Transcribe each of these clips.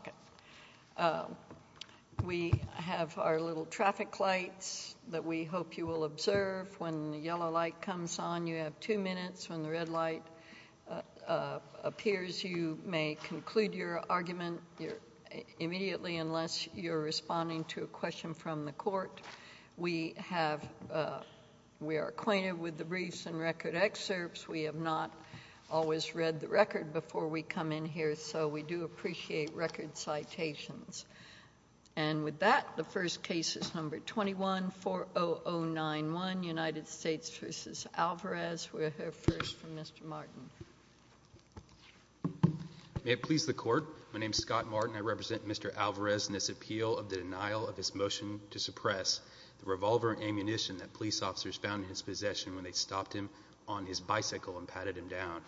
Okay. We have our little traffic lights that we hope you will observe. When the yellow light comes on, you have two minutes. When the red light appears, you may conclude your argument immediately unless you're responding to a question from the court. We are acquainted with the briefs and record excerpts. We have not always read the record before we come in here, so we do appreciate record citations. And with that, the first case is No. 21-40091, United States v. Alvarez. We'll hear first from Mr. Martin. May it please the Court, my name is Scott Martin. I represent Mr. Alvarez in this appeal of the denial of his motion to suppress the revolver and ammunition that police officers found in his possession when they stopped him on his bicycle and patted him down.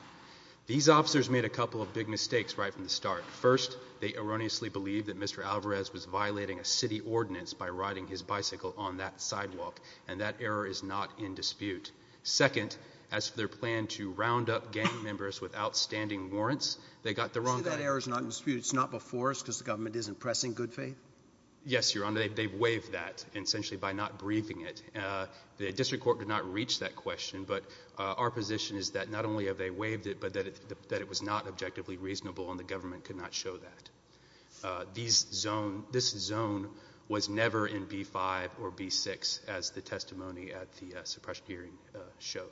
These officers made a couple of big mistakes right from the start. First, they erroneously believed that Mr. Alvarez was violating a city ordinance by riding his bicycle on that sidewalk, and that error is not in dispute. Second, as for their plan to round up gang members with outstanding warrants, they got the wrong guy. See, that error is not in dispute. It's not before us because the government isn't pressing good faith? Yes, Your Honor. They've waived that, essentially by not briefing it. The district court did not reach that question, but our position is that not only have they waived it, but that it was not objectively reasonable and the government could not show that. This zone was never in B-5 or B-6, as the testimony at the suppression hearing showed.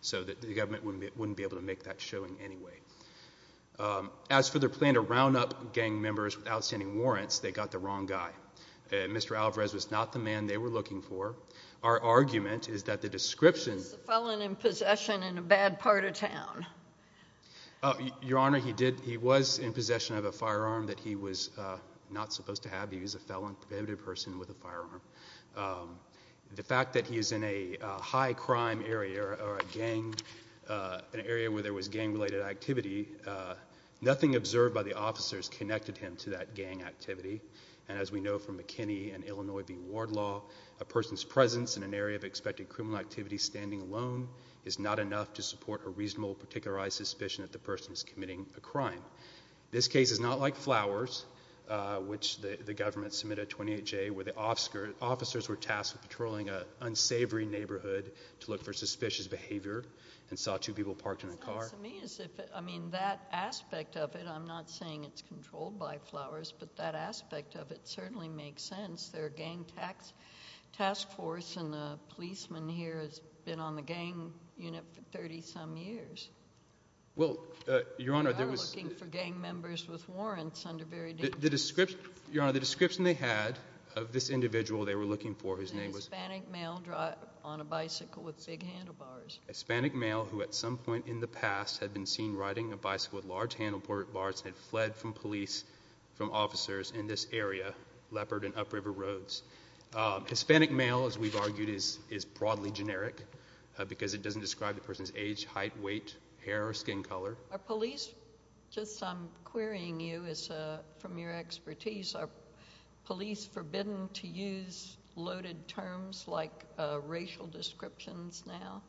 So the government wouldn't be able to make that showing anyway. As for their plan to round up gang members with outstanding warrants, they got the wrong guy. Mr. Alvarez was not the man they were looking for. Our argument is that the description He was a felon in possession in a bad part of town. Your Honor, he was in possession of a firearm that he was not supposed to have. He was a felon, a perpetrative person with a firearm. The fact that he is in a high-crime area or a gang, an area where there was gang-related activity, nothing observed by the officers connected him to that gang activity. And as we know from McKinney and Illinois v. Wardlaw, a person's presence in an area of expected criminal activity standing alone is not enough to support a reasonable, particularized suspicion that the person is committing a crime. This case is not like Flowers, which the government submitted a 28-J, where the officers were tasked with patrolling an unsavory neighborhood to look for suspicious behavior and saw two people parked in a car. To me, I mean, that aspect of it, I'm not saying it's controlled by Flowers, but that aspect of it certainly makes sense. Their gang task force and the policemen here has been on the gang unit for 30-some years. Well, Your Honor, there was— They are looking for gang members with warrants under very dangerous— The description, Your Honor, the description they had of this individual they were looking for whose name was— A Hispanic male on a bicycle with big handlebars. A Hispanic male who at some point in the past had been seen riding a bicycle with large handlebars and had fled from police, from officers in this area, Leopard and Upriver Roads. Hispanic male, as we've argued, is broadly generic because it doesn't describe the person's age, height, weight, hair, or skin color. Are police—just I'm querying you from your expertise—are police forbidden to use loaded terms like racial descriptions now?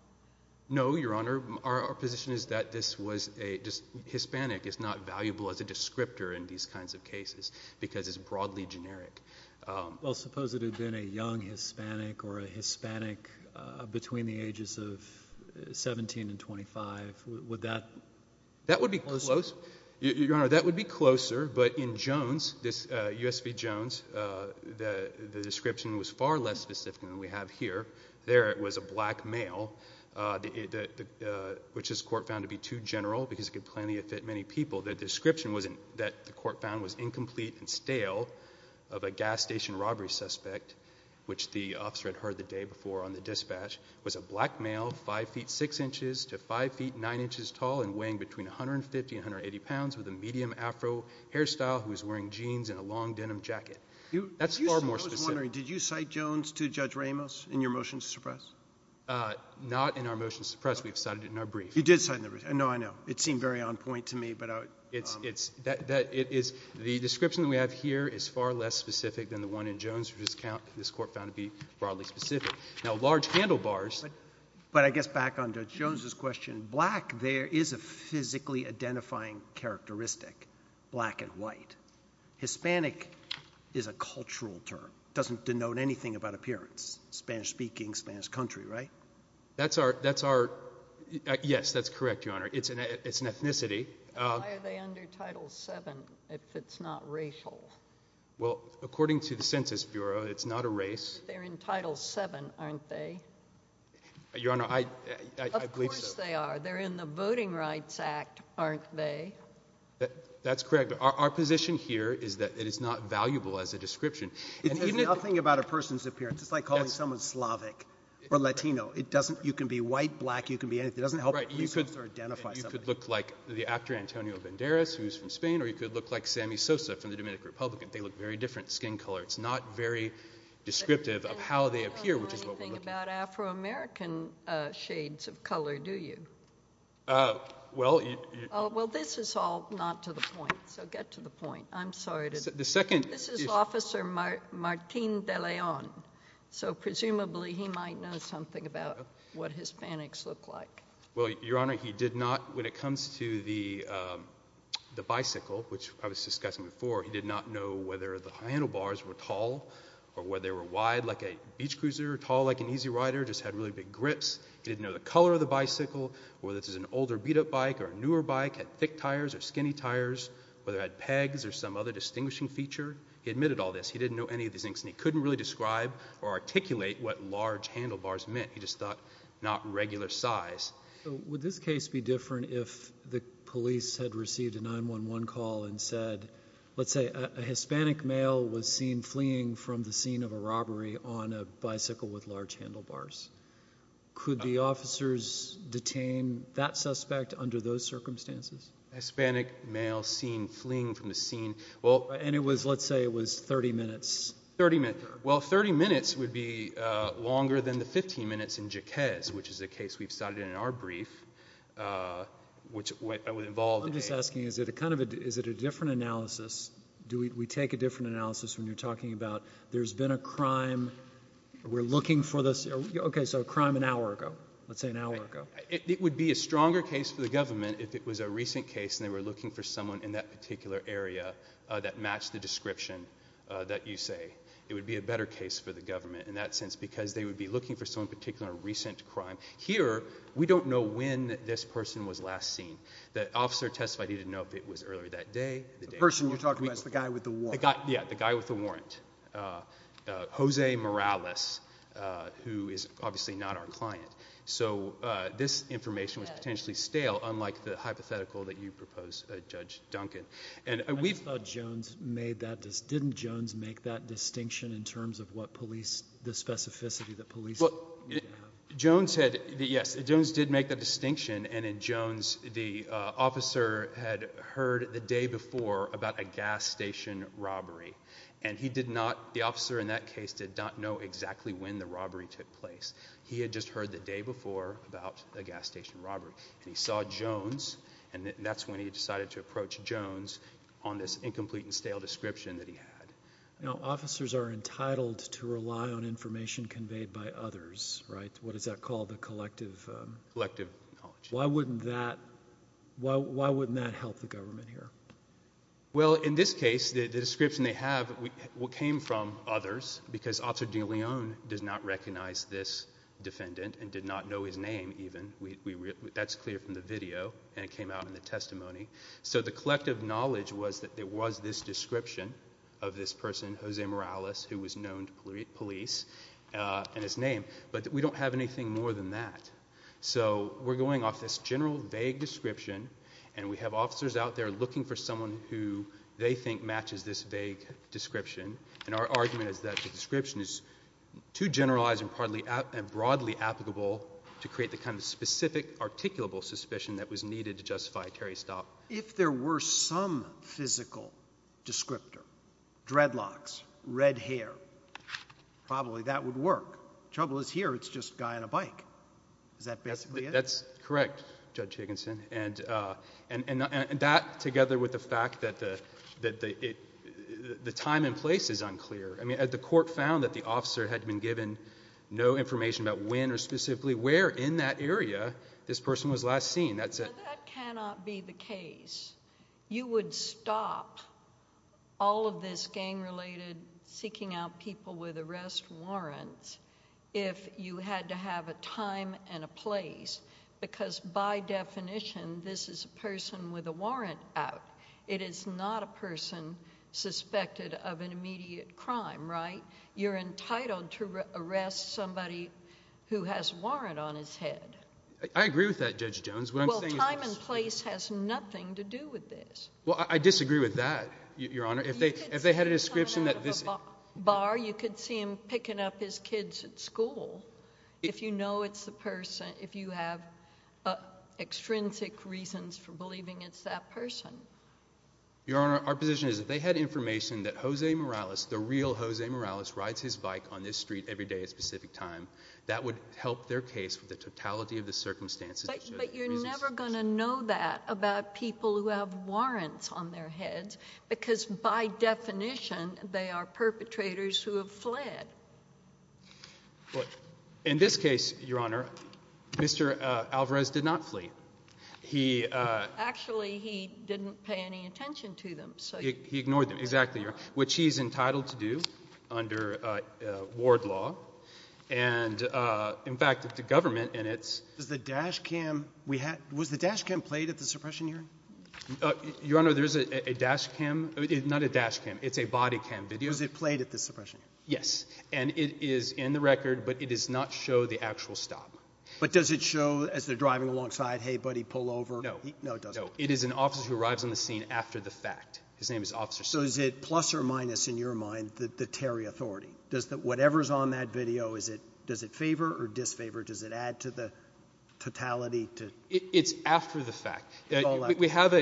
No, Your Honor. Our position is that this was a—Hispanic is not valuable as a descriptor in these kinds of cases because it's broadly generic. Well, suppose it had been a young Hispanic or a Hispanic between the ages of 17 and 25. Would that be closer? That would be close. Your Honor, that would be closer, but in Jones, this U.S. v. Jones, the description was far less specific than we have here. There, it was a black male, which this Court found to be too general because it could plainly affect many people. The description that the Court found was incomplete and stale of a gas station robbery suspect, which the officer had heard the day before on the dispatch, was a black male, 5 feet 6 inches to 5 feet 9 inches tall and weighing between 150 and 180 pounds with a medium Afro hairstyle who was wearing jeans and a long denim jacket. That's far more specific. Did you cite Jones to Judge Ramos in your motion to suppress? Not in our motion to suppress. We've cited it in our brief. You did cite it in the brief. No, I know. It seemed very on point to me. But it's—the description that we have here is far less specific than the one in Jones, which this Court found to be broadly specific. Now, large handlebars— But I guess back on Judge Jones's question, black there is a physically identifying characteristic—black and white. Hispanic is a cultural term. It doesn't denote anything about appearance—Spanish-speaking, Spanish country, right? That's our—yes, that's correct, Your Honor. It's an ethnicity. Why are they under Title VII if it's not racial? Well, according to the Census Bureau, it's not a race. They're in Title VII, aren't they? Your Honor, I believe so. Of course they are. They're in the Voting Rights Act, aren't they? That's correct. But our position here is that it is not valuable as a description. It says nothing about a person's appearance. It's like calling someone Slavic or Latino. It doesn't—you can be white, black, you can be anything. It doesn't help research or identify somebody. Right. You could look like the actor Antonio Banderas, who's from Spain, or you could look like Sammy Sosa from the Dominican Republic, and they look very different skin color. It's not very descriptive of how they appear, which is what we're looking for. You don't know anything about Afro-American shades of color, do you? Well, you— It's all not to the point, so get to the point. I'm sorry to— The second— This is Officer Martin De Leon, so presumably he might know something about what Hispanics look like. Well, Your Honor, he did not, when it comes to the bicycle, which I was discussing before, he did not know whether the handlebars were tall or whether they were wide, like a beach cruiser, or tall like an easy rider, just had really big grips. He didn't know the color of the bicycle, whether this is an older beat-up bike or a newer bike, thick tires or skinny tires, whether it had pegs or some other distinguishing feature. He admitted all this. He didn't know any of these things, and he couldn't really describe or articulate what large handlebars meant. He just thought, not regular size. Would this case be different if the police had received a 911 call and said, let's say, a Hispanic male was seen fleeing from the scene of a robbery on a bicycle with large handlebars? Could the officers detain that suspect under those circumstances? Hispanic male seen fleeing from the scene. Well— And it was, let's say, it was 30 minutes. 30 minutes. Well, 30 minutes would be longer than the 15 minutes in Jaquez, which is a case we've cited in our brief, which involved— I'm just asking, is it a different analysis? Do we take a different analysis when you're talking about there's been a crime, we're looking for this? Okay, so a crime an hour ago. Let's say an hour ago. It would be a stronger case for the government if it was a recent case, and they were looking for someone in that particular area that matched the description that you say. It would be a better case for the government in that sense, because they would be looking for some particular recent crime. Here, we don't know when this person was last seen. The officer testified he didn't know if it was earlier that day. The person you're talking about is the guy with the warrant. Yeah, the guy with the warrant. Jose Morales, who is obviously not our client. So this information was potentially stale, unlike the hypothetical that you propose, Judge Duncan. Didn't Jones make that distinction in terms of the specificity that police— Well, Jones did make that distinction, and in Jones, the officer had heard the day before about a gas station robbery, and he did not—the officer in that case did not know exactly when the robbery took place. He had just heard the day before about a gas station robbery, and he saw Jones, and that's when he decided to approach Jones on this incomplete and stale description that he had. Now, officers are entitled to rely on information conveyed by others, right? What is that called? The collective— Collective knowledge. Why wouldn't that help the government here? Well, in this case, the description they have came from others, because Officer DeLeon does not recognize this defendant and did not know his name, even. That's clear from the video, and it came out in the testimony. So the collective knowledge was that there was this description of this person, Jose Morales, who was known to police and his name, but we don't have anything more than that. So we're going off this general, vague description, and we have officers out there looking for someone who they think matches this vague description, and our argument is that the description is too generalized and broadly applicable to create the kind of specific, articulable suspicion that was needed to justify Terry's stop. If there were some physical descriptor—dreadlocks, red hair—probably that would work. Trouble is here, it's just a guy on a bike. Is that basically it? That's correct, Judge Higginson, and that, together with the fact that the time and place is unclear. I mean, the court found that the officer had been given no information about when or specifically where in that area this person was last seen. Now, that cannot be the case. You would stop all of this gang-related seeking out people with arrest warrants if you had to have a time and a place, because by definition, this is a person with a warrant out. It is not a person suspected of an immediate crime, right? You're entitled to arrest somebody who has a warrant on his head. I agree with that, Judge Jones. Well, time and place has nothing to do with this. Well, I disagree with that, Your Honor. If they had a description that this— You could see him picking up his kids at school if you know it's the person, if you have extrinsic reasons for believing it's that person. Your Honor, our position is if they had information that Jose Morales, the real Jose Morales, rides his bike on this street every day at a specific time, that would help their case with the totality of the circumstances. But you're never going to know that about people who have warrants on their heads, because by definition, they are perpetrators who have fled. Well, in this case, Your Honor, Mr. Alvarez did not flee. He— Actually, he didn't pay any attention to them, so— He ignored them, exactly, Your Honor, which he's entitled to do under ward law. And, in fact, the government in its— Was the dash cam played at the suppression hearing? Your Honor, there is a dash cam. Not a dash cam. It's a body cam video. Was it played at the suppression hearing? Yes. And it is in the record, but it does not show the actual stop. But does it show as they're driving alongside, hey, buddy, pull over? No. No, it doesn't. No. It is an officer who arrives on the scene after the fact. His name is Officer— So is it plus or minus, in your mind, the Terry authority? Does whatever's on that video, does it favor or disfavor? Does it add to the totality to— It's after the fact. We have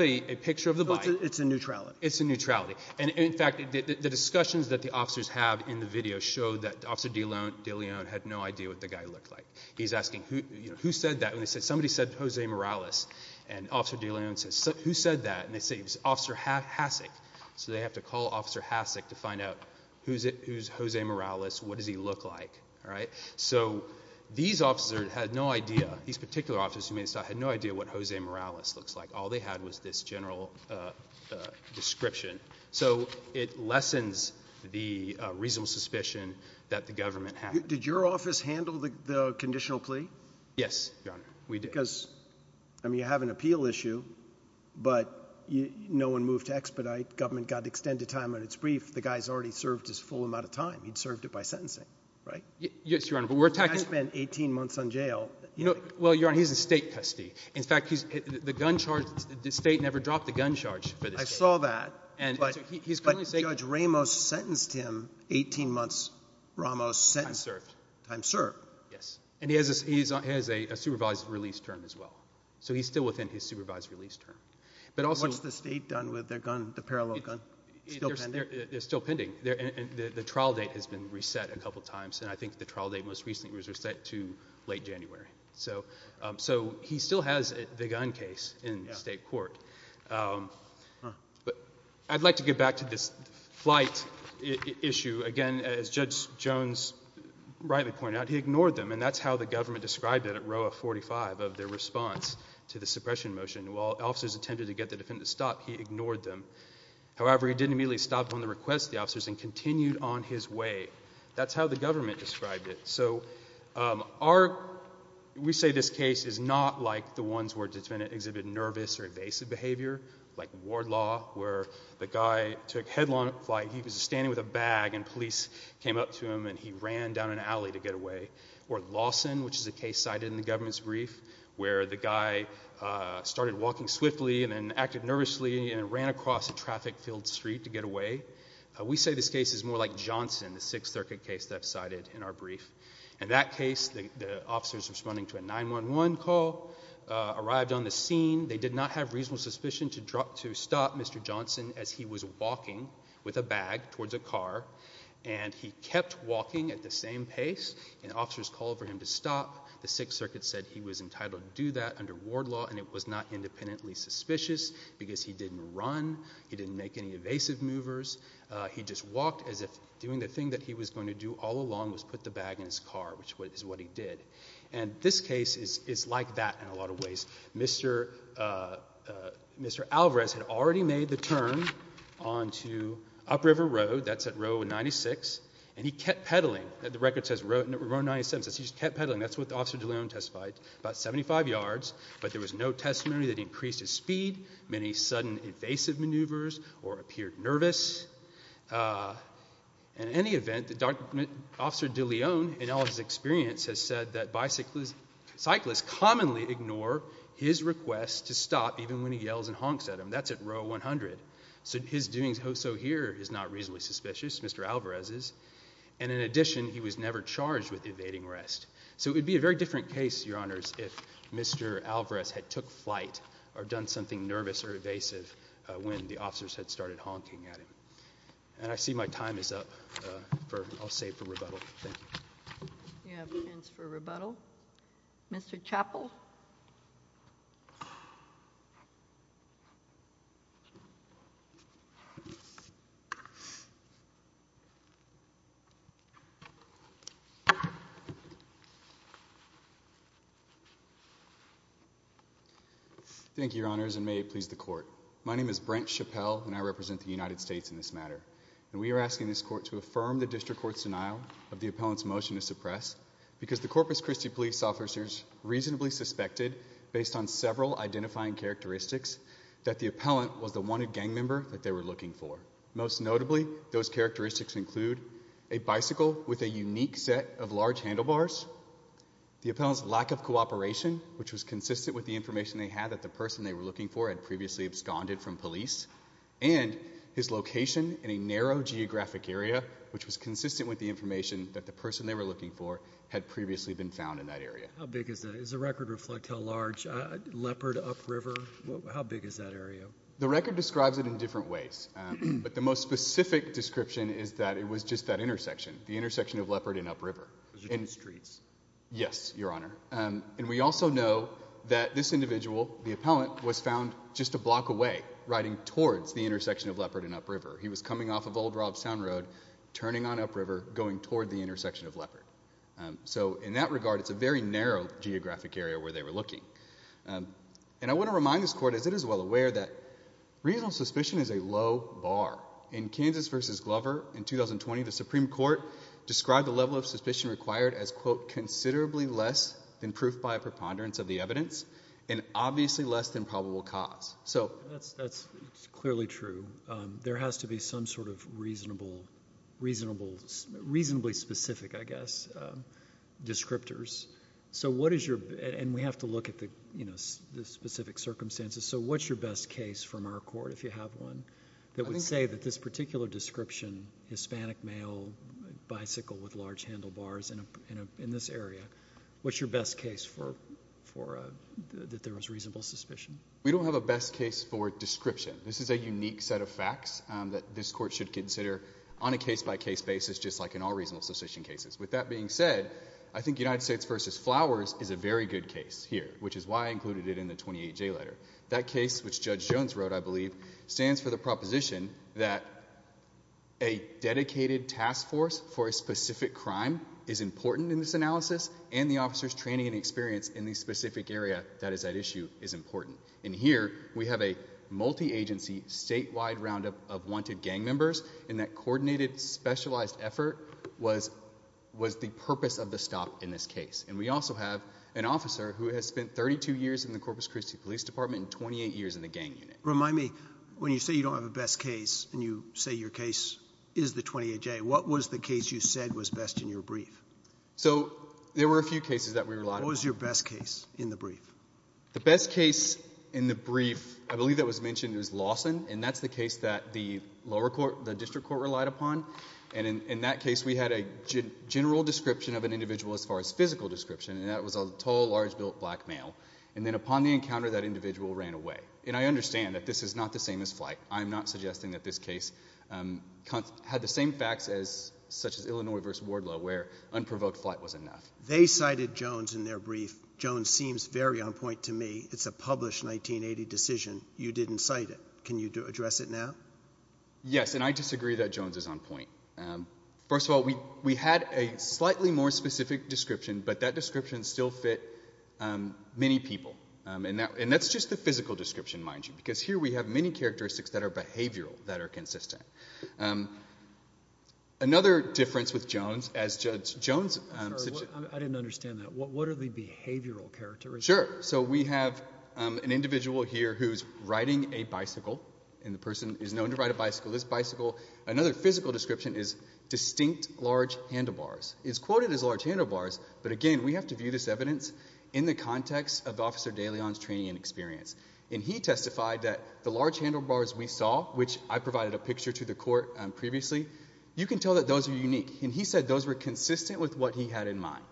a picture of the bike. It's a neutrality. It's a neutrality. And, in fact, the discussions that the officers have in the video show that Officer DeLeon had no idea what the guy looked like. He's asking, who said that? And they said, somebody said, Jose Morales. And Officer DeLeon says, who said that? And they say, it was Officer Hasek. So they have to call Officer Hasek to find out who's Jose Morales, what does he look like, all right? So these officers had no idea. These particular officers who made the stop had no idea what Jose Morales looks like. All they had was this general description. So it lessens the reasonable suspicion that the government had. Did your office handle the conditional plea? Yes, Your Honor, we did. Because, I mean, you have an appeal issue, but no one moved to expedite. Government got extended time on its brief. The guy's already served his full amount of time. He'd served it by sentencing, right? Yes, Your Honor, but we're attacking— Well, Your Honor, he's a state custody. In fact, the state never dropped the gun charge for this case. I saw that, but Judge Ramos sentenced him 18 months, Ramos sentenced— Time served. Time served. Yes. And he has a supervised release term as well. So he's still within his supervised release term. But also— What's the state done with the gun, the parallel gun? It's still pending? It's still pending. The trial date has been reset a couple times, and I think the trial date most recently was to late January. So he still has the gun case in state court. But I'd like to get back to this flight issue. Again, as Judge Jones rightly pointed out, he ignored them, and that's how the government described it at Roa 45 of their response to the suppression motion. While officers attempted to get the defendant to stop, he ignored them. However, he didn't immediately stop on the request of the officers and continued on his way. That's how the government described it. So we say this case is not like the ones where the defendant exhibited nervous or evasive behavior, like Wardlaw, where the guy took headline flight. He was standing with a bag, and police came up to him, and he ran down an alley to get away. Or Lawson, which is a case cited in the government's brief, where the guy started walking swiftly and then acted nervously and ran across a traffic-filled street to get away. We say this case is more like Johnson, the Sixth Circuit case that I've cited in our brief. In that case, the officers responding to a 911 call arrived on the scene. They did not have reasonable suspicion to stop Mr. Johnson as he was walking with a bag towards a car, and he kept walking at the same pace, and officers called for him to stop. The Sixth Circuit said he was entitled to do that under Wardlaw, and it was not independently suspicious because he didn't run, he didn't make any evasive movers. He just walked as if doing the thing that he was going to do all along was put the bag in his car, which is what he did. And this case is like that in a lot of ways. Mr. Alvarez had already made the turn onto Upriver Road. That's at Row 96, and he kept pedaling. The record says Row 97, so he just kept pedaling. That's what Officer DeLeon testified, about 75 yards, but there was no testimony that increased his speed, many sudden evasive maneuvers, or appeared nervous. In any event, Officer DeLeon, in all of his experience, has said that cyclists commonly ignore his request to stop even when he yells and honks at him. That's at Row 100. His doings also here is not reasonably suspicious, Mr. Alvarez's, and in addition, he was never charged with evading arrest. So it would be a very different case, Your Honors, if Mr. Alvarez had took flight or done something nervous or evasive when the officers had started honking at him. And I see my time is up for, I'll save it for rebuttal. Thank you. You have a chance for rebuttal. Mr. Chappell? Thank you, Your Honors, and may it please the Court. My name is Brent Chappell, and I represent the United States in this matter, and we are asking this Court to affirm the District Court's denial of the appellant's motion to suppress because the Corpus Christi police officers reasonably suspected, based on several identifying characteristics, that the appellant was the wanted gang member that they were looking for. Most notably, those characteristics include a bicycle with a unique set of large handlebars, the appellant's lack of cooperation, which was consistent with the information they had that the person they were looking for had previously absconded from police, and his location in a narrow geographic area, which was consistent with the information that the appellant had previously been found in that area. How big is that? Does the record reflect how large, Leopard, Up River, how big is that area? The record describes it in different ways, but the most specific description is that it was just that intersection, the intersection of Leopard and Up River. It was just the streets? Yes, Your Honor. And we also know that this individual, the appellant, was found just a block away, riding towards the intersection of Leopard and Up River. He was coming off of Old Robstown Road, turning on Up River, going toward the intersection of Leopard. So in that regard, it's a very narrow geographic area where they were looking. And I want to remind this Court, as it is well aware, that reasonable suspicion is a low bar. In Kansas v. Glover in 2020, the Supreme Court described the level of suspicion required as, quote, considerably less than proof by a preponderance of the evidence, and obviously less than probable cause. So that's clearly true. There has to be some sort of reasonably specific, I guess, descriptors. So what is your... and we have to look at the specific circumstances. So what's your best case from our Court, if you have one, that would say that this particular description, Hispanic male, bicycle with large handlebars in this area, what's your best case that there was reasonable suspicion? We don't have a best case for description. This is a unique set of facts that this Court should consider on a case-by-case basis, just like in all reasonable suspicion cases. With that being said, I think United States v. Flowers is a very good case here, which is why I included it in the 28J letter. That case, which Judge Jones wrote, I believe, stands for the proposition that a dedicated task force for a specific crime is important in this analysis, and the officer's training and experience in the specific area that is at issue is important. And here, we have a multi-agency, statewide roundup of wanted gang members, and that coordinated, specialized effort was the purpose of the stop in this case. And we also have an officer who has spent 32 years in the Corpus Christi Police Department and 28 years in the gang unit. Remind me, when you say you don't have a best case, and you say your case is the 28J, what was the case you said was best in your brief? So there were a few cases that we relied on. What was your best case in the brief? The best case in the brief, I believe that was mentioned, was Lawson, and that's the case that the lower court, the district court, relied upon, and in that case, we had a general description of an individual as far as physical description, and that was a tall, large-built black male. And then upon the encounter, that individual ran away. And I understand that this is not the same as flight. I am not suggesting that this case had the same facts as, such as Illinois v. Wardlow, where unprovoked flight was enough. They cited Jones in their brief. Jones seems very on point to me. It's a published 1980 decision. You didn't cite it. Can you address it now? Yes, and I disagree that Jones is on point. First of all, we had a slightly more specific description, but that description still fit many people. And that's just the physical description, mind you, because here we have many characteristics that are behavioral, that are consistent. Another difference with Jones, as Judge Jones said— I'm sorry. I didn't understand that. What are the behavioral characteristics? Sure. So we have an individual here who's riding a bicycle, and the person is known to ride a bicycle. This bicycle—another physical description is distinct large handlebars. It's quoted as large handlebars, but again, we have to view this evidence in the context of Officer DeLeon's training and experience. And he testified that the large handlebars we saw, which I provided a picture to the court previously, you can tell that those are unique. And he said those were consistent with what he had in mind.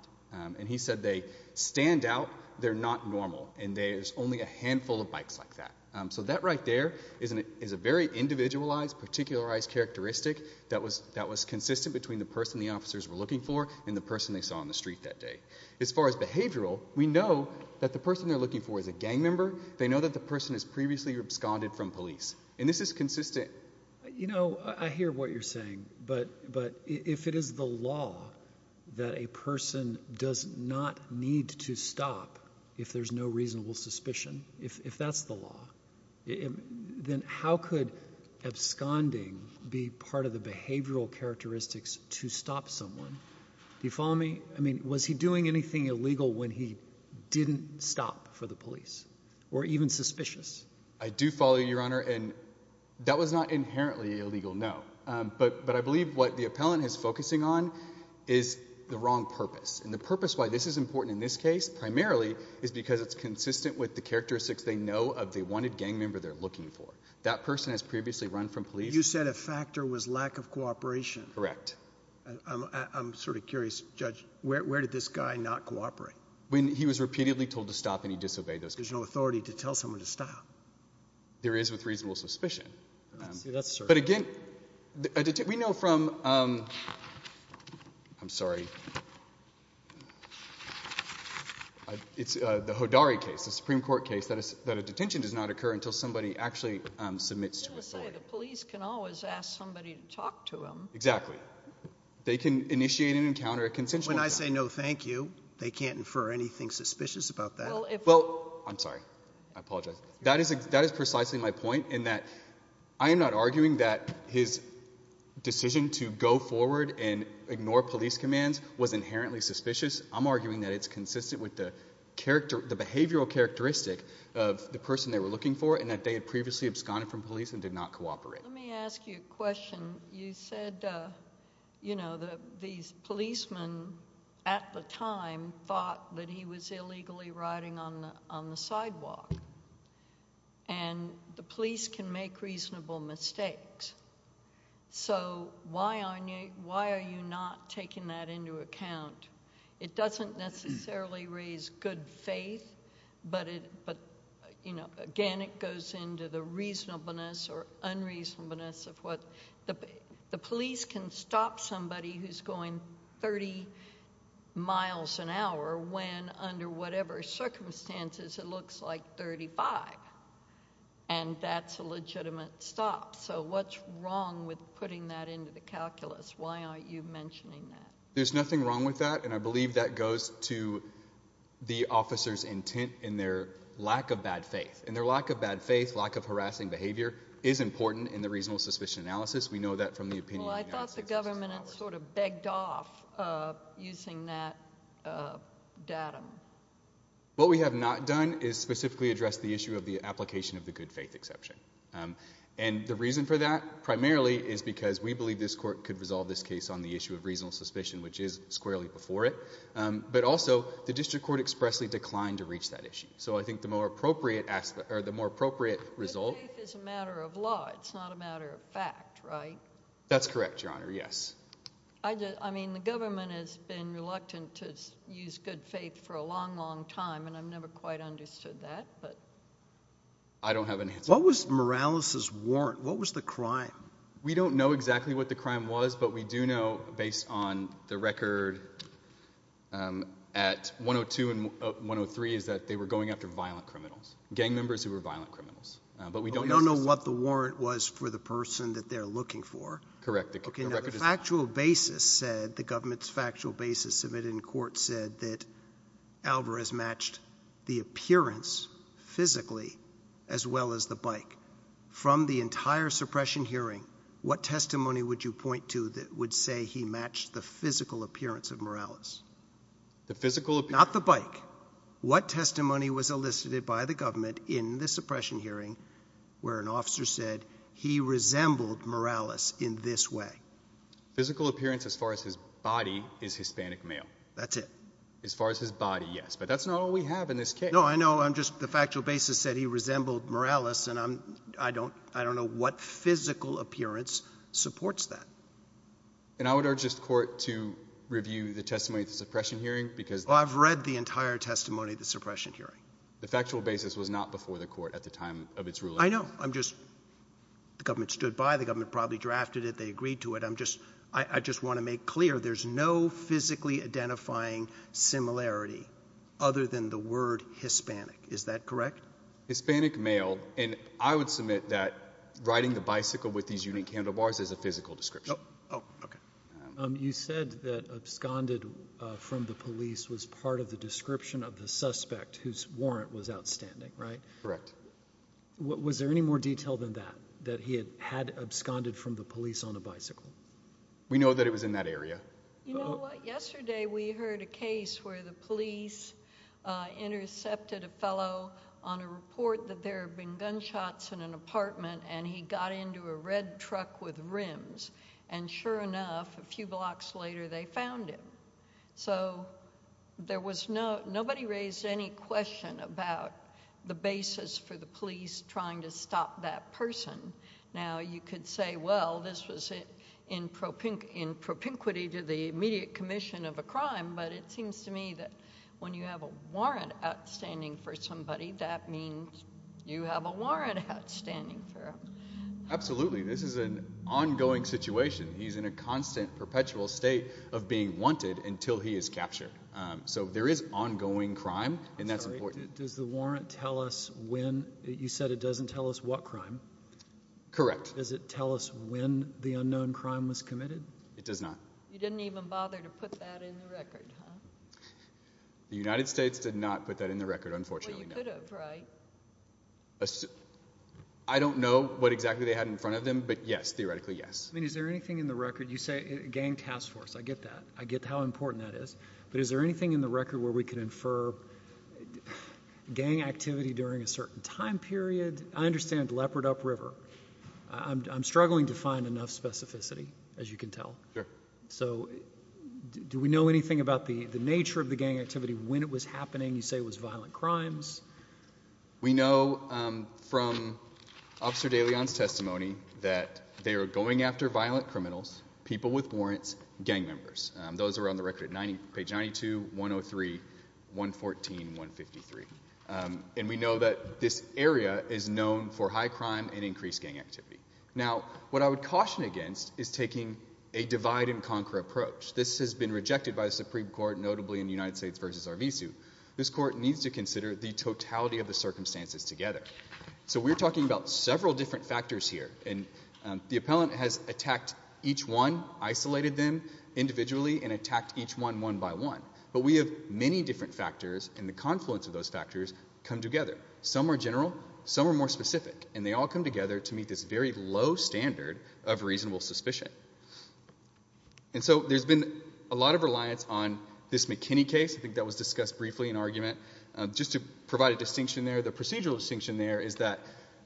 And he said they stand out, they're not normal, and there's only a handful of bikes like that. So that right there is a very individualized, particularized characteristic that was consistent between the person the officers were looking for and the person they saw on the street that day. As far as behavioral, we know that the person they're looking for is a gang member. They know that the person has previously absconded from police. And this is consistent. You know, I hear what you're saying, but if it is the law that a person does not need to stop if there's no reasonable suspicion, if that's the law, then how could absconding be part of the behavioral characteristics to stop someone? Do you follow me? I mean, was he doing anything illegal when he didn't stop for the police, or even suspicious? I do follow you, Your Honor, and that was not inherently illegal, no. But I believe what the appellant is focusing on is the wrong purpose. And the purpose why this is important in this case, primarily, is because it's consistent with the characteristics they know of the wanted gang member they're looking for. That person has previously run from police. You said a factor was lack of cooperation. Correct. I'm sort of curious, Judge, where did this guy not cooperate? When he was repeatedly told to stop, and he disobeyed those orders. There's no authority to tell someone to stop. There is with reasonable suspicion. But again, we know from, I'm sorry, it's the Hodari case, the Supreme Court case, that a detention does not occur until somebody actually submits to authority. So to say, the police can always ask somebody to talk to them. Exactly. They can initiate an encounter at consensual. When I say no, thank you, they can't infer anything suspicious about that? Well, I'm sorry, I apologize. That is precisely my point, in that I am not arguing that his decision to go forward and ignore police commands was inherently suspicious. I'm arguing that it's consistent with the behavioral characteristic of the person they were looking for, and that they had previously absconded from police and did not cooperate. Let me ask you a question. You said, you know, these policemen at the time thought that he was illegally riding on the sidewalk, and the police can make reasonable mistakes. So why are you not taking that into account? It doesn't necessarily raise good faith, but again, it goes into the reasonableness or unreasonableness of what the police can stop somebody who's going 30 miles an hour when under whatever circumstances it looks like 35, and that's a legitimate stop. So what's wrong with putting that into the calculus? Why aren't you mentioning that? There's nothing wrong with that, and I believe that goes to the officer's intent in their lack of bad faith. And their lack of bad faith, lack of harassing behavior is important in the reasonable suspicion analysis. We know that from the opinion of the United States Postal Service. Well, I thought the government had sort of begged off using that datum. What we have not done is specifically address the issue of the application of the good faith exception, and the reason for that primarily is because we believe this court could resolve this case on the issue of reasonable suspicion, which is squarely before it, but also the district court expressly declined to reach that issue. So I think the more appropriate result... Good faith is a matter of law. It's not a matter of fact, right? That's correct, Your Honor. Yes. I mean, the government has been reluctant to use good faith for a long, long time, and I've never quite understood that, but... I don't have an answer. What was Morales' warrant? What was the crime? We don't know exactly what the crime was, but we do know, based on the record at 102 and 103, is that they were going after violent criminals, gang members who were violent criminals, but we don't know... You don't know what the warrant was for the person that they're looking for? Correct. Okay, now the factual basis said, the government's factual basis submitted in court said that Alvarez matched the appearance physically as well as the bike. From the entire suppression hearing, what testimony would you point to that would say he matched the physical appearance of Morales? The physical appearance? Not the bike. What testimony was elicited by the government in the suppression hearing where an officer said he resembled Morales in this way? Physical appearance as far as his body is Hispanic male. That's it? As far as his body, yes, but that's not all we have in this case. No, I know. I'm just... The factual basis said he resembled Morales, and I don't know what physical appearance supports that. And I would urge this court to review the testimony at the suppression hearing, because... Well, I've read the entire testimony at the suppression hearing. The factual basis was not before the court at the time of its ruling. I know. I'm just... The government stood by. The government probably drafted it. They agreed to it. I'm just... I just want to make clear there's no physically identifying similarity other than the word Hispanic. Is that correct? Hispanic male, and I would submit that riding the bicycle with these unique handlebars is a physical description. Oh, okay. You said that absconded from the police was part of the description of the suspect whose warrant was outstanding, right? Correct. Was there any more detail than that, that he had absconded from the police on a bicycle? We know that it was in that area. You know what, yesterday we heard a case where the police intercepted a fellow on a report that there had been gunshots in an apartment, and he got into a red truck with rims. And sure enough, a few blocks later, they found him. So there was no... Nobody raised any question about the basis for the police trying to stop that person. Now, you could say, well, this was in propinquity to the immediate commission of a crime, but it seems to me that when you have a warrant outstanding for somebody, that means you have a warrant outstanding for them. Absolutely. This is an ongoing situation. He's in a constant, perpetual state of being wanted until he is captured. So there is ongoing crime, and that's important. Does the warrant tell us when... You said it doesn't tell us what crime. Correct. Does it tell us when the unknown crime was committed? It does not. You didn't even bother to put that in the record, huh? The United States did not put that in the record, unfortunately, no. Well, you could have, right? I don't know what exactly they had in front of them, but yes, theoretically, yes. I mean, is there anything in the record, you say gang task force, I get that, I get how important that is, but is there anything in the record where we could infer gang activity during a certain time period? I understand Leopard Up River. I'm struggling to find enough specificity, as you can tell. So do we know anything about the nature of the gang activity, when it was happening? You say it was violent crimes. We know from Officer DeLeon's testimony that they were going after violent criminals, people with warrants, gang members. Those are on the record at page 92, 103, 114, 153. And we know that this area is known for high crime and increased gang activity. Now, what I would caution against is taking a divide and conquer approach. This has been rejected by the Supreme Court, notably in the United States v. RV suit. This court needs to consider the totality of the circumstances together. So we're talking about several different factors here. And the appellant has attacked each one, isolated them individually, and attacked each one, one by one. But we have many different factors, and the confluence of those factors come together. Some are general. Some are more specific. And they all come together to meet this very low standard of reasonable suspicion. And so there's been a lot of reliance on this McKinney case. I think that was discussed briefly in argument. Just to provide a distinction there, the procedural distinction there is that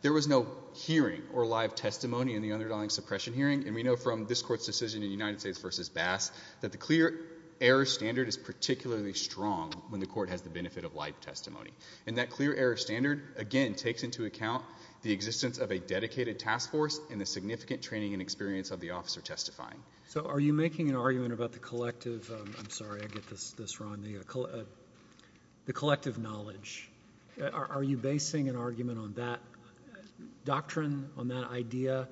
there was no hearing or live testimony in the underdawing suppression hearing. And we know from this court's decision in United States v. Bass that the clear error standard is particularly strong when the court has the benefit of live testimony. And that clear error standard, again, takes into account the existence of a dedicated task force and the significant training and experience of the officer testifying. So are you making an argument about the collective—I'm sorry, I get this wrong—the collective knowledge? Are you basing an argument on that doctrine, on that idea,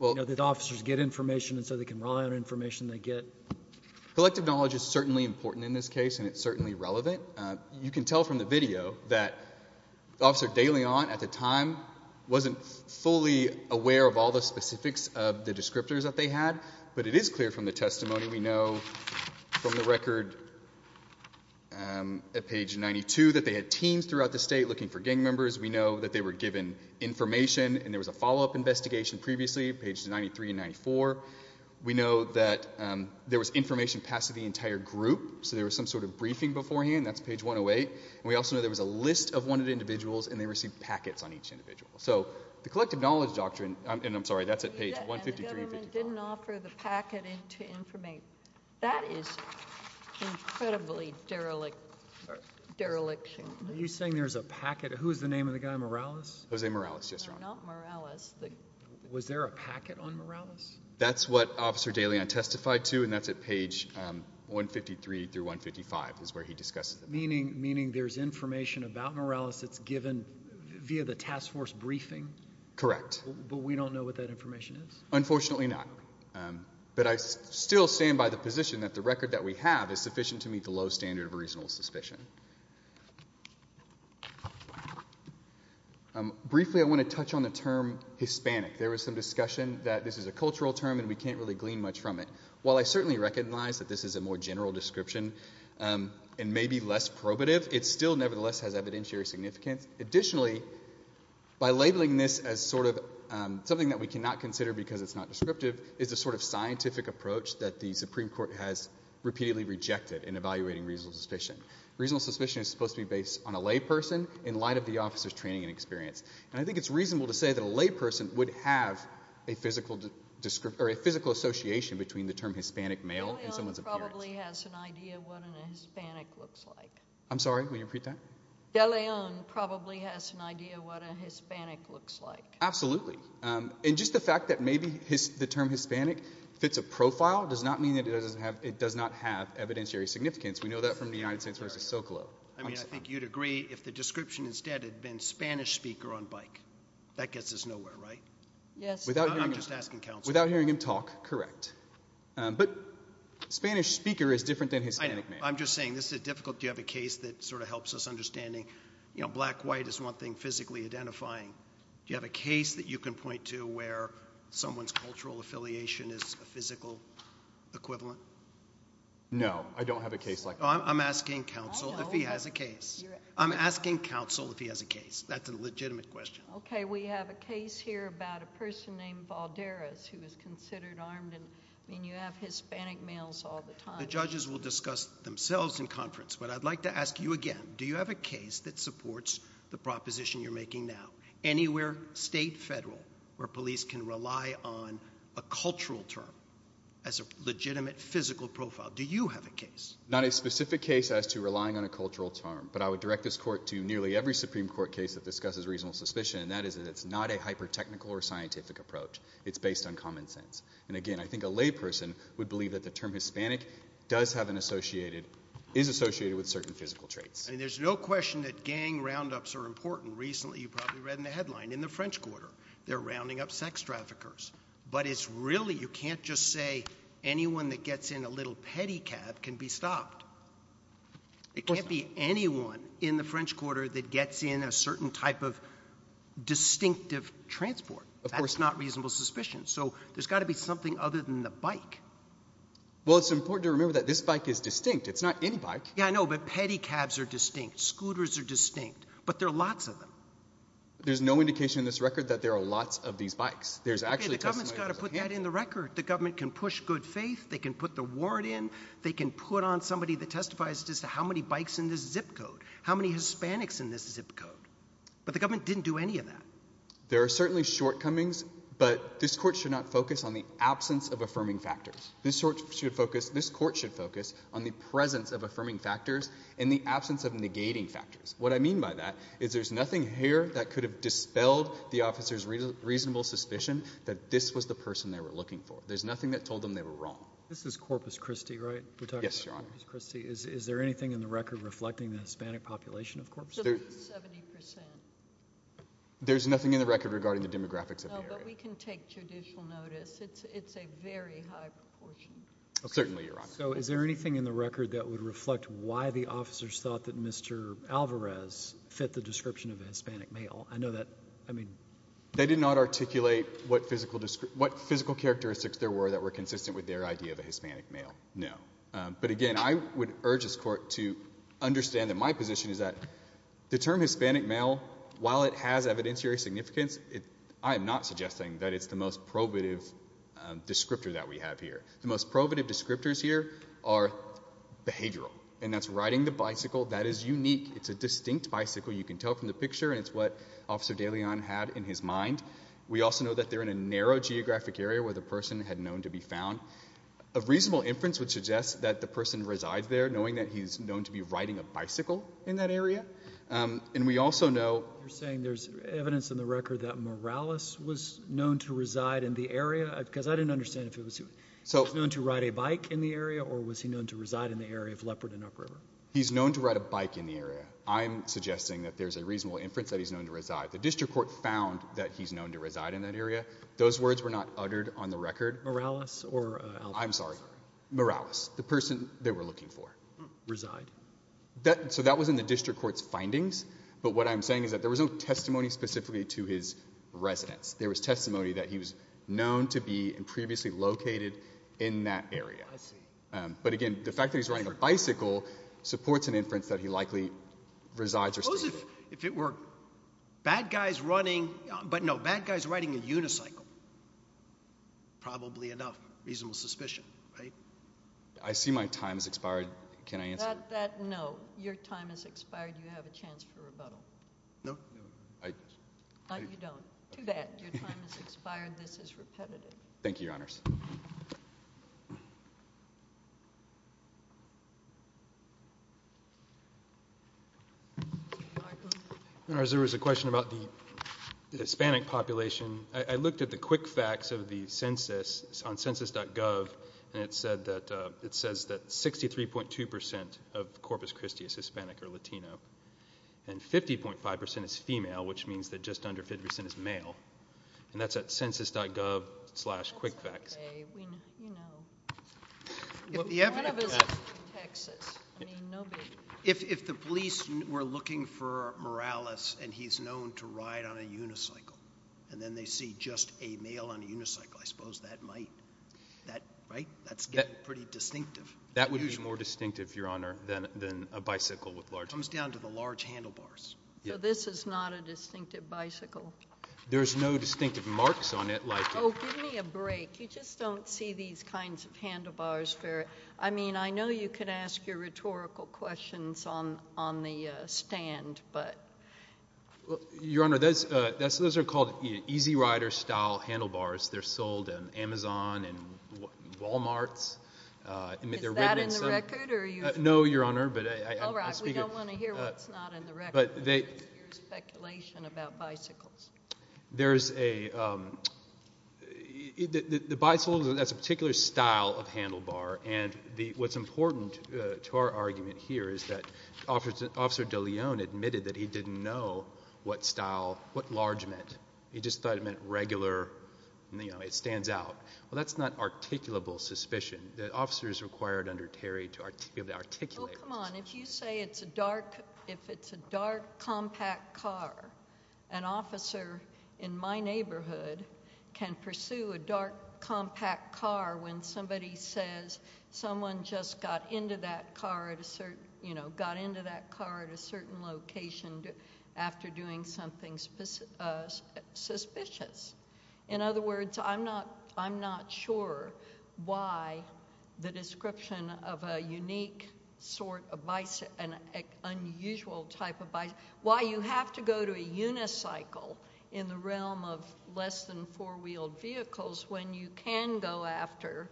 you know, that officers get information so they can rely on information they get? Collective knowledge is certainly important in this case, and it's certainly relevant. You can tell from the video that Officer de Leon at the time wasn't fully aware of all the specifics of the descriptors that they had, but it is clear from the testimony we know from the record at page 92 that they had teams throughout the state looking for gang members. We know that they were given information, and there was a follow-up investigation previously at pages 93 and 94. We know that there was information passed to the entire group, so there was some sort of briefing beforehand. That's page 108. And we also know there was a list of wanted individuals, and they received packets on each individual. So the collective knowledge doctrine—and I'm sorry, that's at page 153 and 154. And the government didn't offer the packet to inform—that is incredibly derelict—dereliction. Are you saying there's a packet? Who's the name of the guy, Morales? Jose Morales, yes, Your Honor. Not Morales. Was there a packet on Morales? That's what Officer de Leon testified to, and that's at page 153 through 155 is where he discusses it. Meaning there's information about Morales that's given via the task force briefing? Correct. But we don't know what that information is? Unfortunately not. But I still stand by the position that the record that we have is sufficient to meet the low standard of a reasonable suspicion. Briefly I want to touch on the term Hispanic. There was some discussion that this is a cultural term, and we can't really glean much from it. While I certainly recognize that this is a more general description and maybe less probative, it still nevertheless has evidentiary significance. Additionally, by labeling this as sort of something that we cannot consider because it's not descriptive, is a sort of scientific approach that the Supreme Court has repeatedly rejected in evaluating reasonable suspicion. Reasonable suspicion is supposed to be based on a layperson in light of the officer's training and experience. And I think it's reasonable to say that a layperson would have a physical association between the term Hispanic male and someone's appearance. De Leon probably has an idea what a Hispanic looks like. I'm sorry, will you repeat that? De Leon probably has an idea what a Hispanic looks like. Absolutely. And just the fact that maybe the term Hispanic fits a profile does not mean that it does not have evidentiary significance. We know that from the United States v. Socolow. I mean, I think you'd agree if the description instead had been Spanish speaker on bike. That gets us nowhere, right? Yes. I'm just asking counsel. Without hearing him talk, correct. But Spanish speaker is different than Hispanic male. I'm just saying this is difficult. Do you have a case that sort of helps us understanding, you know, black-white is one thing physically identifying. Do you have a case that you can point to where someone's cultural affiliation is a physical equivalent? No, I don't have a case like that. I'm asking counsel if he has a case. I'm asking counsel if he has a case. That's a legitimate question. Okay. We have a case here about a person named Valderez who is considered armed and, I mean, you have Hispanic males all the time. The judges will discuss themselves in conference, but I'd like to ask you again. Do you have a case that supports the proposition you're making now? Anywhere state, federal, where police can rely on a cultural term as a legitimate physical profile. Do you have a case? Not a specific case as to relying on a cultural term, but I would direct this court to nearly every Supreme Court case that discusses reasonable suspicion, and that is that it's not a hyper-technical or scientific approach. It's based on common sense. And again, I think a layperson would believe that the term Hispanic does have an associated – is associated with certain physical traits. I mean, there's no question that gang roundups are important. Recently, you probably read in the headline, in the French Quarter, they're rounding up sex traffickers. But it's really – you can't just say anyone that gets in a little pedicab can be stopped. It can't be anyone in the French Quarter that gets in a certain type of distinctive transport. That's not reasonable suspicion, so there's got to be something other than the bike. Well, it's important to remember that this bike is distinct. It's not any bike. Yeah, I know. But pedicabs are distinct. Scooters are distinct. But there are lots of them. There's no indication in this record that there are lots of these bikes. There's actually testimony – Okay, the government's got to put that in the record. The government can push good faith. They can put the warrant in. They can put on somebody that testifies as to how many bikes in this zip code. How many Hispanics in this zip code. But the government didn't do any of that. There are certainly shortcomings, but this court should not focus on the absence of affirming factors. This court should focus on the presence of affirming factors and the absence of negating factors. What I mean by that is there's nothing here that could have dispelled the officer's reasonable suspicion that this was the person they were looking for. There's nothing that told them they were wrong. This is Corpus Christi, right? Yes, Your Honor. We're talking about Corpus Christi. Is there anything in the record reflecting the Hispanic population of Corpus Christi? 70%. There's nothing in the record regarding the demographics of the area. No, but we can take judicial notice. It's a very high proportion. Certainly, Your Honor. So is there anything in the record that would reflect why the officers thought that Mr. Alvarez fit the description of a Hispanic male? I know that – I mean – they did not articulate what physical characteristics there were that were consistent with their idea of a Hispanic male. No. But again, I would urge this court to understand that my position is that the term Hispanic male, while it has evidentiary significance, I am not suggesting that it's the most probative descriptor that we have here. The most probative descriptors here are behavioral, and that's riding the bicycle. That is unique. It's a distinct bicycle. You can tell from the picture, and it's what Officer DeLeon had in his mind. We also know that they're in a narrow geographic area where the person had known to be found. A reasonable inference would suggest that the person resides there, knowing that he's known to be riding a bicycle in that area. And we also know – You're saying there's evidence in the record that Morales was known to reside in the area? Because I didn't understand if he was known to ride a bike in the area, or was he known to reside in the area of Leopard and Upriver? He's known to ride a bike in the area. I'm suggesting that there's a reasonable inference that he's known to reside. The district court found that he's known to reside in that area. Those words were not uttered on the record. Morales or Alphonse? I'm sorry. Morales. The person they were looking for. Reside. So that was in the district court's findings, but what I'm saying is that there was no testimony specifically to his residence. There was testimony that he was known to be and previously located in that area. I see. But, again, the fact that he's riding a bicycle supports an inference that he likely resides. Suppose if it were bad guys riding a unicycle. Probably enough. Reasonable suspicion, right? I see my time has expired. Can I answer? Your time has expired. You have a chance for rebuttal. No. Too bad. Your time has expired. This is repetitive. Thank you, Your Honors. Thank you. There was a question about the Hispanic population. I looked at the quick facts of the census on census.gov, and it says that 63.2% of Corpus Christi is Hispanic or Latino, and 50.5% is female, which means that just under 50% is male. And that's at census.gov slash quick facts. Okay. You know. If the police were looking for Morales and he's known to ride on a unicycle, and then they see just a male on a unicycle, I suppose that might. Right? That's getting pretty distinctive. That would be more distinctive, Your Honor, than a bicycle with large. It comes down to the large handlebars. So this is not a distinctive bicycle? There's no distinctive marks on it like. Oh, give me a break. You just don't see these kinds of handlebars. I mean, I know you can ask your rhetorical questions on the stand, but. Your Honor, those are called easy rider style handlebars. They're sold at Amazon and Walmarts. Is that in the record? No, Your Honor. All right. We don't want to hear what's not in the record. Speculation about bicycles. There's a ñ the bicycle has a particular style of handlebar, and what's important to our argument here is that Officer DeLeon admitted that he didn't know what style, what large meant. He just thought it meant regular, you know, it stands out. Well, that's not articulable suspicion. The officer is required under Terry to articulate. Oh, come on. If you say it's a dark, if it's a dark compact car, an officer in my neighborhood can pursue a dark compact car when somebody says someone just got into that car at a certain, you know, got into that car at a certain location after doing something suspicious. In other words, I'm not sure why the description of a unique sort of bicycle, an unusual type of bicycle, why you have to go to a unicycle in the realm of less than four wheeled vehicles when you can go after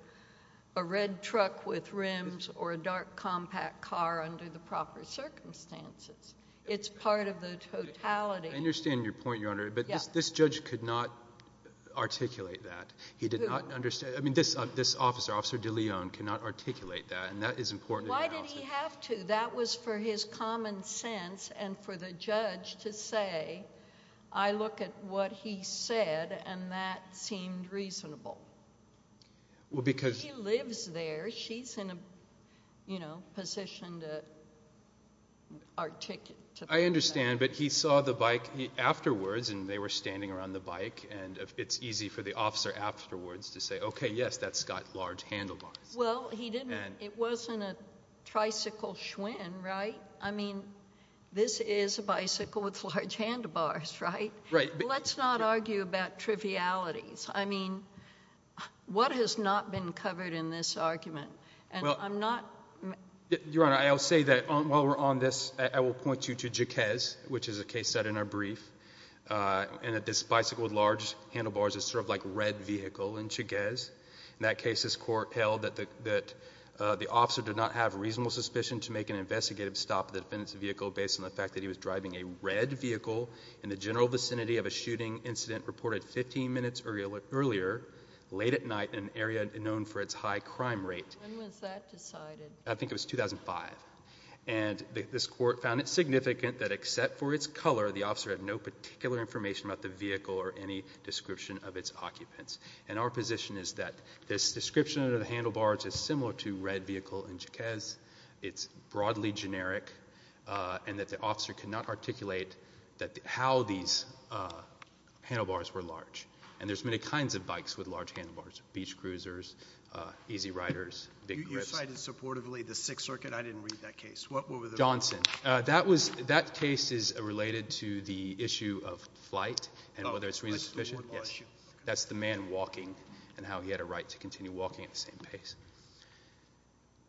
a red truck with rims or a dark compact car under the proper circumstances. It's part of the totality. I understand your point, Your Honor. But this judge could not articulate that. He did not understand. I mean, this officer, Officer DeLeon, could not articulate that, and that is important. Why did he have to? That was for his common sense and for the judge to say, I look at what he said and that seemed reasonable. Well, because he lives there. She's in a, you know, position to articulate that. I understand. But he saw the bike afterwards, and they were standing around the bike, and it's easy for the officer afterwards to say, okay, yes, that's got large handlebars. Well, he didn't. It wasn't a tricycle Schwinn, right? I mean, this is a bicycle with large handlebars, right? Right. Let's not argue about trivialities. I mean, what has not been covered in this argument? Your Honor, I will say that while we're on this, I will point you to Jaquez, which is a case set in our brief, and that this bicycle with large handlebars is sort of like red vehicle in Jaquez. In that case, this court held that the officer did not have reasonable suspicion to make an investigative stop at the defendant's vehicle based on the fact that he was driving a red vehicle in the general vicinity of a shooting incident reported 15 minutes earlier, late at night, in an area known for its high crime rate. When was that decided? I think it was 2005. And this court found it significant that except for its color, the officer had no particular information about the vehicle or any description of its occupants. And our position is that this description of the handlebars is similar to red vehicle in Jaquez, it's broadly generic, and that the officer cannot articulate how these handlebars were large. And there's many kinds of bikes with large handlebars, beach cruisers, easy riders, big grips. You cited supportively the Sixth Circuit. I didn't read that case. Johnson. That case is related to the issue of flight and whether it's reasonable suspicion. That's the man walking and how he had a right to continue walking at the same pace.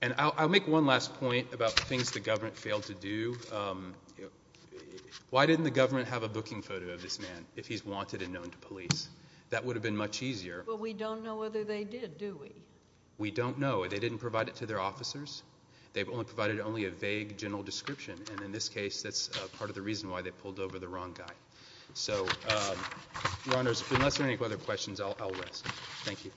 And I'll make one last point about things the government failed to do. Why didn't the government have a booking photo of this man if he's wanted and known to police? That would have been much easier. But we don't know whether they did, do we? We don't know. They didn't provide it to their officers. They provided only a vague general description. And in this case, that's part of the reason why they pulled over the wrong guy. So, Your Honors, unless there are any other questions, I'll rest. Thank you.